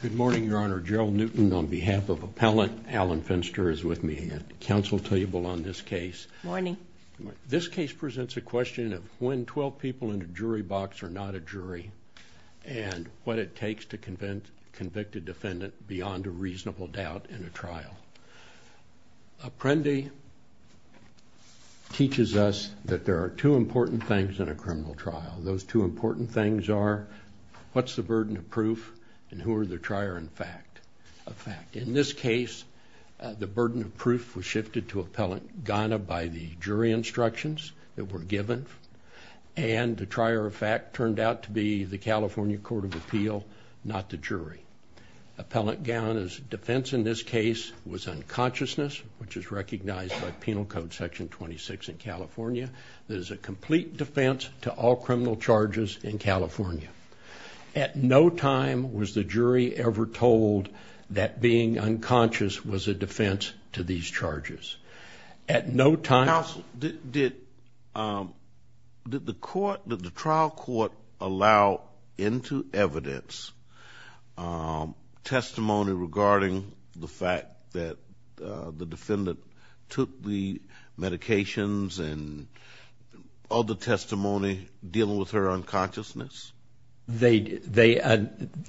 Good morning, Your Honor. Gerald Newton on behalf of Appellant Alan Finster is with me at the counsel table on this case. Good morning. This case presents a question of when 12 people in a jury box are not a jury and what it takes to convict a defendant beyond a reasonable doubt in a trial. Apprendi teaches us that there are two important things in a criminal trial. Those two important things are what's the burden of proof and who are the trier of fact. In this case, the burden of proof was shifted to Appellant Gana by the jury instructions that were given and the trier of fact turned out to be the California Court of Appeal, not the jury. Appellant Gana's defense in this case was unconsciousness, which is recognized by Penal Code Section 26 in California. There's a complete defense to all criminal charges in California. At no time was the jury ever told that being unconscious was a defense to these charges. Counsel, did the trial court allow into evidence testimony regarding the fact that the defendant took the medications and other testimony dealing with her unconsciousness?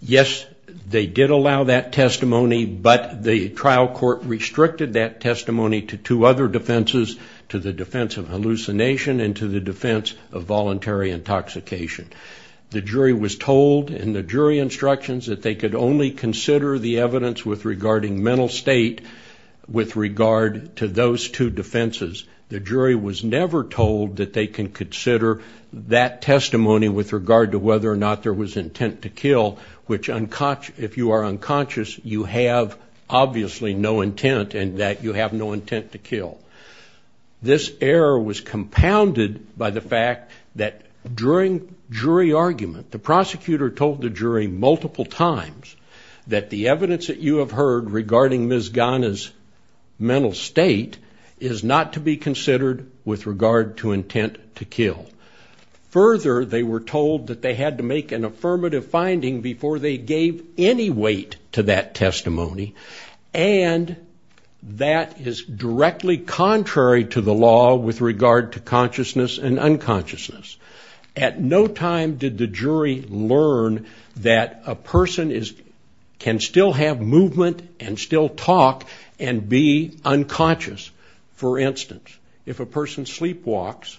Yes, they did allow that testimony, but the trial court restricted that testimony to two other defenses, to the defense of hallucination and to the defense of voluntary intoxication. The jury was told in the jury instructions that they could only consider the evidence regarding mental state with regard to those two defenses. The jury was never told that they can consider that testimony with regard to whether or not there was intent to kill, which if you are unconscious, you have obviously no intent and that you have no intent to kill. This error was compounded by the fact that during jury argument, the prosecutor told the jury multiple times that the evidence that you have heard regarding Ms. Gana's mental state is not to be considered with regard to intent to kill. Further, they were told that they had to make an affirmative finding before they gave any weight to that testimony, and that is directly contrary to the law with regard to consciousness and unconsciousness. At no time did the jury learn that a person can still have movement and still talk and be unconscious. For instance, if a person sleepwalks,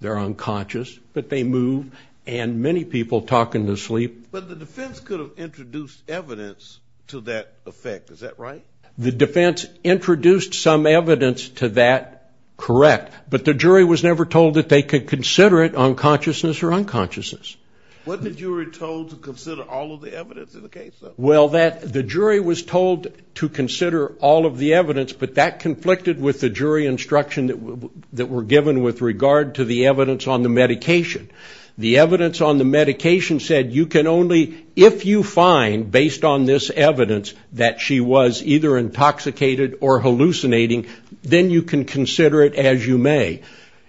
they're unconscious, but they move, and many people talk in their sleep. But the defense could have introduced evidence to that effect, is that right? The defense introduced some evidence to that, correct, but the jury was never told that they could consider it unconsciousness or unconsciousness. What did the jury told to consider all of the evidence in the case, though? Well, the jury was told to consider all of the evidence, but that conflicted with the jury instruction that were given with regard to the evidence on the medication. The evidence on the medication said you can only, if you find, based on this evidence, that she was either intoxicated or hallucinating, then you can consider it as you may.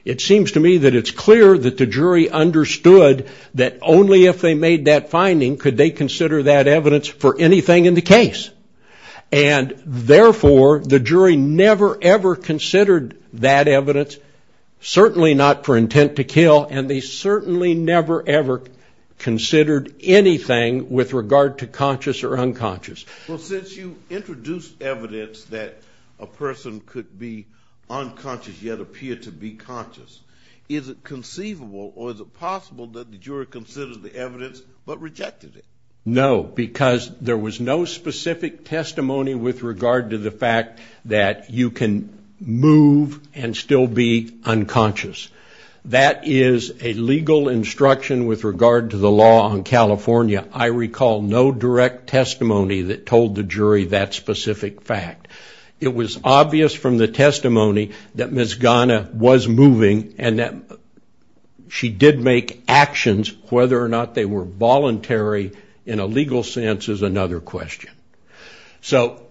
It seems to me that it's clear that the jury understood that only if they made that finding could they consider that evidence for anything in the case. And therefore, the jury never, ever considered that evidence, certainly not for intent to kill, and they certainly never, ever considered anything with regard to conscious or unconscious. Well, since you introduced evidence that a person could be unconscious yet appear to be conscious, is it conceivable or is it possible that the jury considered the evidence but rejected it? No, because there was no specific testimony with regard to the fact that you can move and still be unconscious. That is a legal instruction with regard to the law in California. I recall no direct testimony that told the jury that specific fact. It was obvious from the testimony that Ms. Ghana was moving and that she did make actions, whether or not they were voluntary in a legal sense is another question. So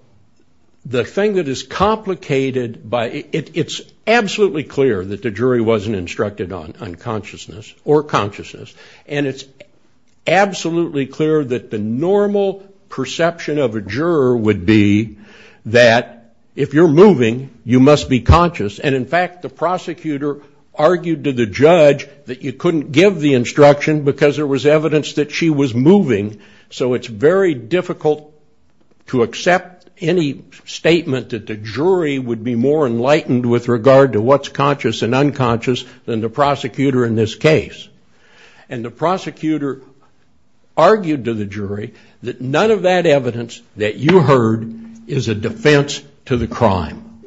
the thing that is complicated, it's absolutely clear that the jury wasn't instructed on consciousness or consciousness, and it's absolutely clear that the normal perception of a juror would be that if you're moving, you must be conscious. And in fact, the prosecutor argued to the judge that you couldn't give the instruction because there was evidence that she was moving, so it's very difficult to accept any statement that the jury would be more enlightened with regard to what's conscious and unconscious than the prosecutor in this case. And the prosecutor argued to the jury that none of that evidence that you heard is a defense to the crime,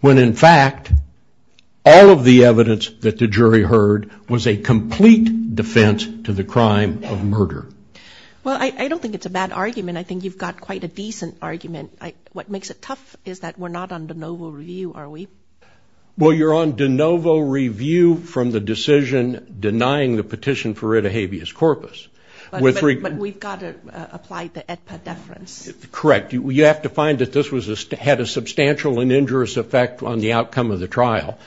when in fact all of the evidence that the jury heard was a complete defense to the crime of murder. Well, I don't think it's a bad argument. I think you've got quite a decent argument. What makes it tough is that we're not on de novo review, are we? Well, you're on de novo review from the decision denying the petition for rid of habeas corpus. But we've got to apply the AEDPA deference. Correct. You have to find that this had a substantial and injurious effect on the outcome of the trial.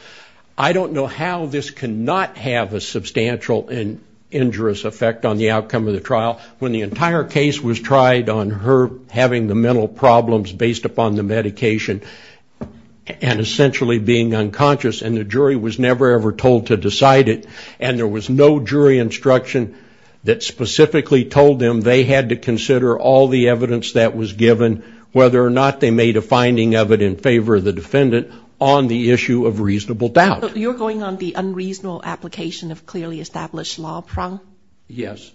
I don't know how this cannot have a substantial and injurious effect on the outcome of the trial when the entire case was tried on her having the mental problems based upon the medication and essentially being unconscious, and the jury was never, ever told to decide it, and there was no jury instruction that specifically told them they had to consider all the evidence that was given, whether or not they made a finding of it in favor of the defendant on the issue of reasonable doubt. You're going on the unreasonable application of clearly established law, Prong? Yes.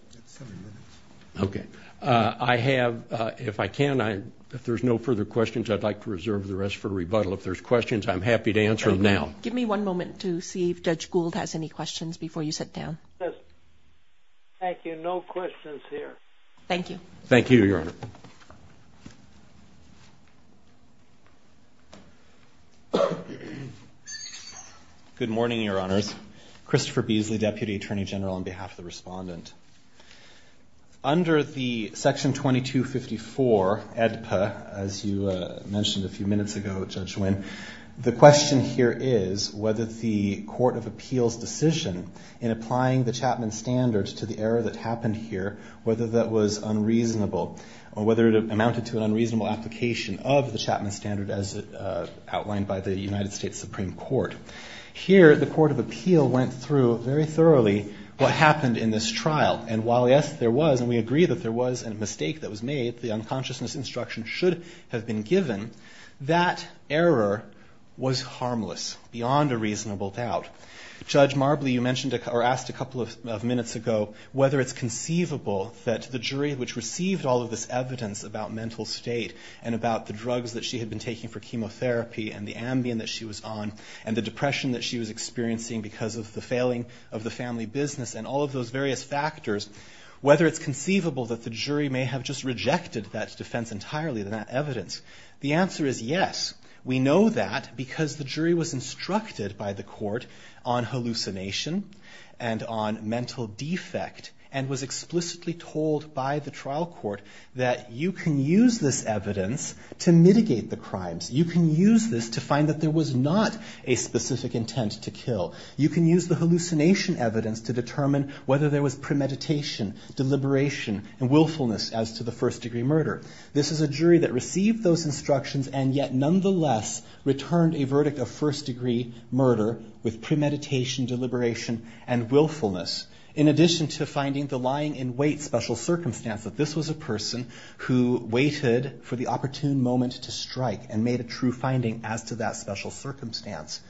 Okay. I have, if I can, if there's no further questions, I'd like to reserve the rest for rebuttal. If there's questions, I'm happy to answer them now. Give me one moment to see if Judge Gould has any questions before you sit down. Thank you. No questions here. Thank you. Thank you, Your Honor. Good morning, Your Honors. Christopher Beasley, Deputy Attorney General, on behalf of the Respondent. Under the Section 2254, EDPA, as you mentioned a few minutes ago, Judge Winn, the question here is whether the Court of Appeals' decision in applying the Chapman Standards to the error that happened here, whether that was unreasonable or whether it amounted to an unreasonable application of the Chapman Standard as outlined by the United States Supreme Court. Here, the Court of Appeal went through very thoroughly what happened in this trial. And while, yes, there was, and we agree that there was a mistake that was made, the unconsciousness instruction should have been given, that error was harmless, beyond a reasonable doubt. Judge Marbley, you mentioned or asked a couple of minutes ago whether it's conceivable that the jury, which received all of this evidence about mental state and about the drugs that she had been taking for chemotherapy and the Ambien that she was on and the depression that she was experiencing because of the failing of the family business and all of those various factors, whether it's conceivable that the jury may have just rejected that defense entirely, that evidence. The answer is yes. We know that because the jury was instructed by the court on hallucination and on mental defect and was explicitly told by the trial court that you can use this evidence to mitigate the crimes. You can use this to find that there was not a specific intent to kill. You can use the hallucination evidence to determine whether there was premeditation, deliberation, and willfulness as to the first-degree murder. This is a jury that received those instructions and yet nonetheless returned a verdict of first-degree murder with premeditation, deliberation, and willfulness, in addition to finding the lying-in-wait special circumstance that this was a person who waited for the opportune moment to strike and made a true finding as to that special circumstance.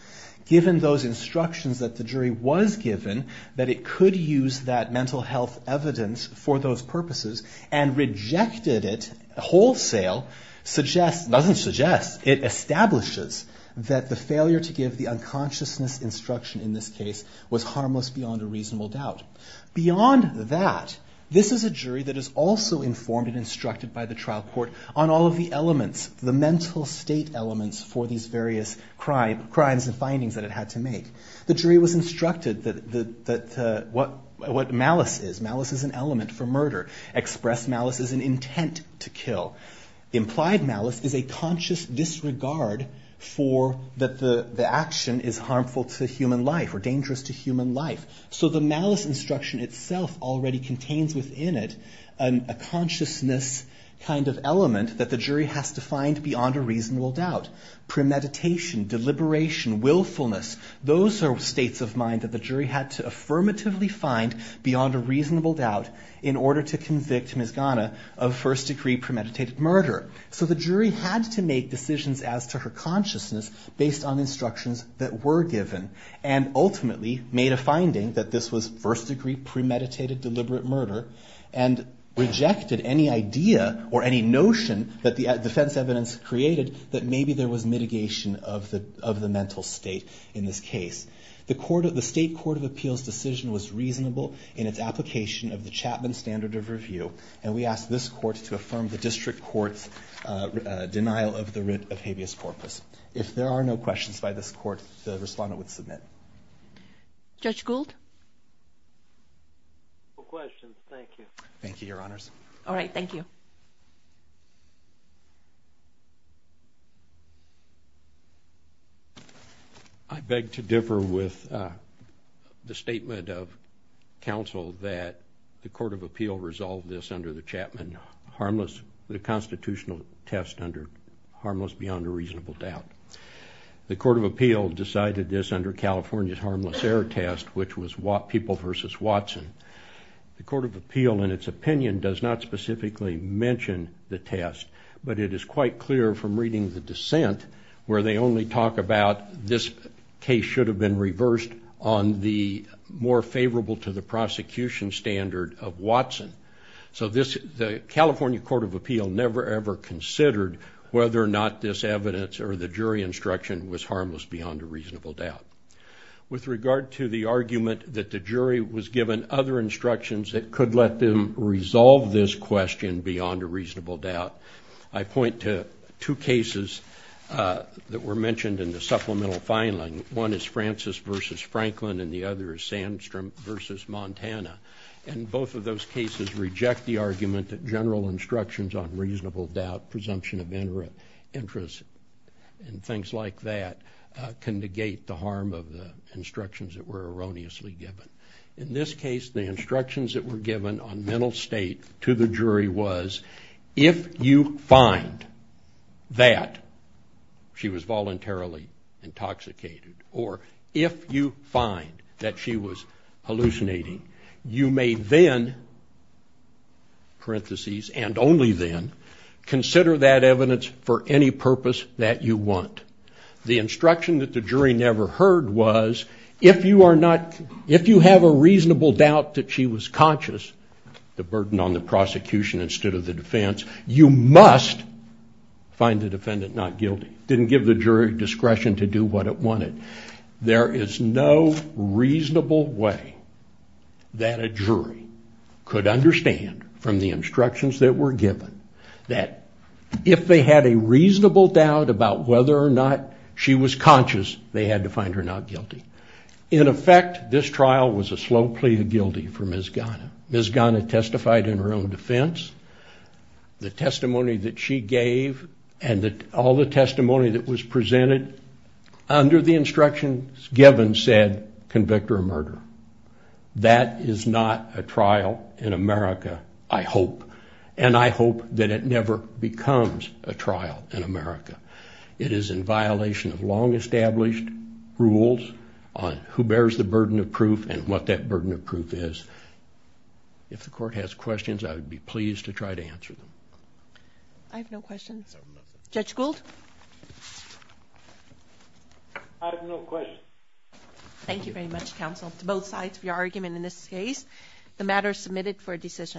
Given those instructions that the jury was given, that it could use that mental health evidence for those purposes and rejected it wholesale suggests, doesn't suggest, it establishes that the failure to give the unconsciousness instruction in this case was harmless beyond a reasonable doubt. Beyond that, this is a jury that is also informed and instructed by the trial court on all of the elements, the mental state elements for these various crimes and findings that it had to make. The jury was instructed that what malice is, malice is an element for murder. Express malice is an intent to kill. Implied malice is a conscious disregard for that the action is harmful to human life or dangerous to human life. So the malice instruction itself already contains within it a consciousness kind of element that the jury has to find beyond a reasonable doubt. Premeditation, deliberation, willfulness, those are states of mind that the jury had to affirmatively find beyond a reasonable doubt in order to convict Ms. Ghana of first-degree premeditated murder. So the jury had to make decisions as to her consciousness based on instructions that were given and ultimately made a finding that this was first-degree premeditated deliberate murder and rejected any idea or any notion that the defense evidence created that maybe there was mitigation of the mental state in this case. The state court of appeals decision was reasonable in its application of the Chapman Standard of Review and we ask this court to affirm the district court's denial of the writ of habeas corpus. If there are no questions by this court, the respondent would submit. Judge Gould? No questions, thank you. Thank you, your honors. All right, thank you. I beg to differ with the statement of counsel that the court of appeal resolved this under the Chapman harmless, the constitutional test under harmless beyond a reasonable doubt. The court of appeal decided this under California's harmless error test, which was people versus Watson. The court of appeal, in its opinion, does not specifically mention the test, but it is quite clear from reading the dissent where they only talk about this case should have been reversed on the more favorable to the prosecution standard of Watson. So the California court of appeal never ever considered whether or not this evidence or the jury instruction was harmless beyond a reasonable doubt. With regard to the argument that the jury was given other instructions that could let them resolve this question beyond a reasonable doubt, I point to two cases that were mentioned in the supplemental filing. One is Francis versus Franklin and the other is Sandstrom versus Montana. And both of those cases reject the argument that general instructions on reasonable doubt, presumption of interest, and things like that can negate the harm of the instructions that were erroneously given. In this case, the instructions that were given on mental state to the jury was, if you find that she was voluntarily intoxicated, or if you find that she was hallucinating, you may then, parenthesis, and only then consider that evidence for any purpose that you want. The instruction that the jury never heard was, if you have a reasonable doubt that she was conscious, the burden on the prosecution instead of the defense, you must find the defendant not guilty. It didn't give the jury discretion to do what it wanted. There is no reasonable way that a jury could understand from the instructions that were given that if they had a reasonable doubt about whether or not she was conscious, they had to find her not guilty. In effect, this trial was a slow plea of guilty for Ms. Ghana. Ms. Ghana testified in her own defense. The testimony that she gave and all the testimony that was presented under the instructions given said, convict her of murder. That is not a trial in America, I hope, and I hope that it never becomes a trial in America. It is in violation of long-established rules on who bears the burden of proof and what that burden of proof is. If the court has questions, I would be pleased to try to answer them. I have no questions. Judge Gould? I have no questions. Thank you very much, counsel. To both sides of your argument in this case, the matter is submitted for decision.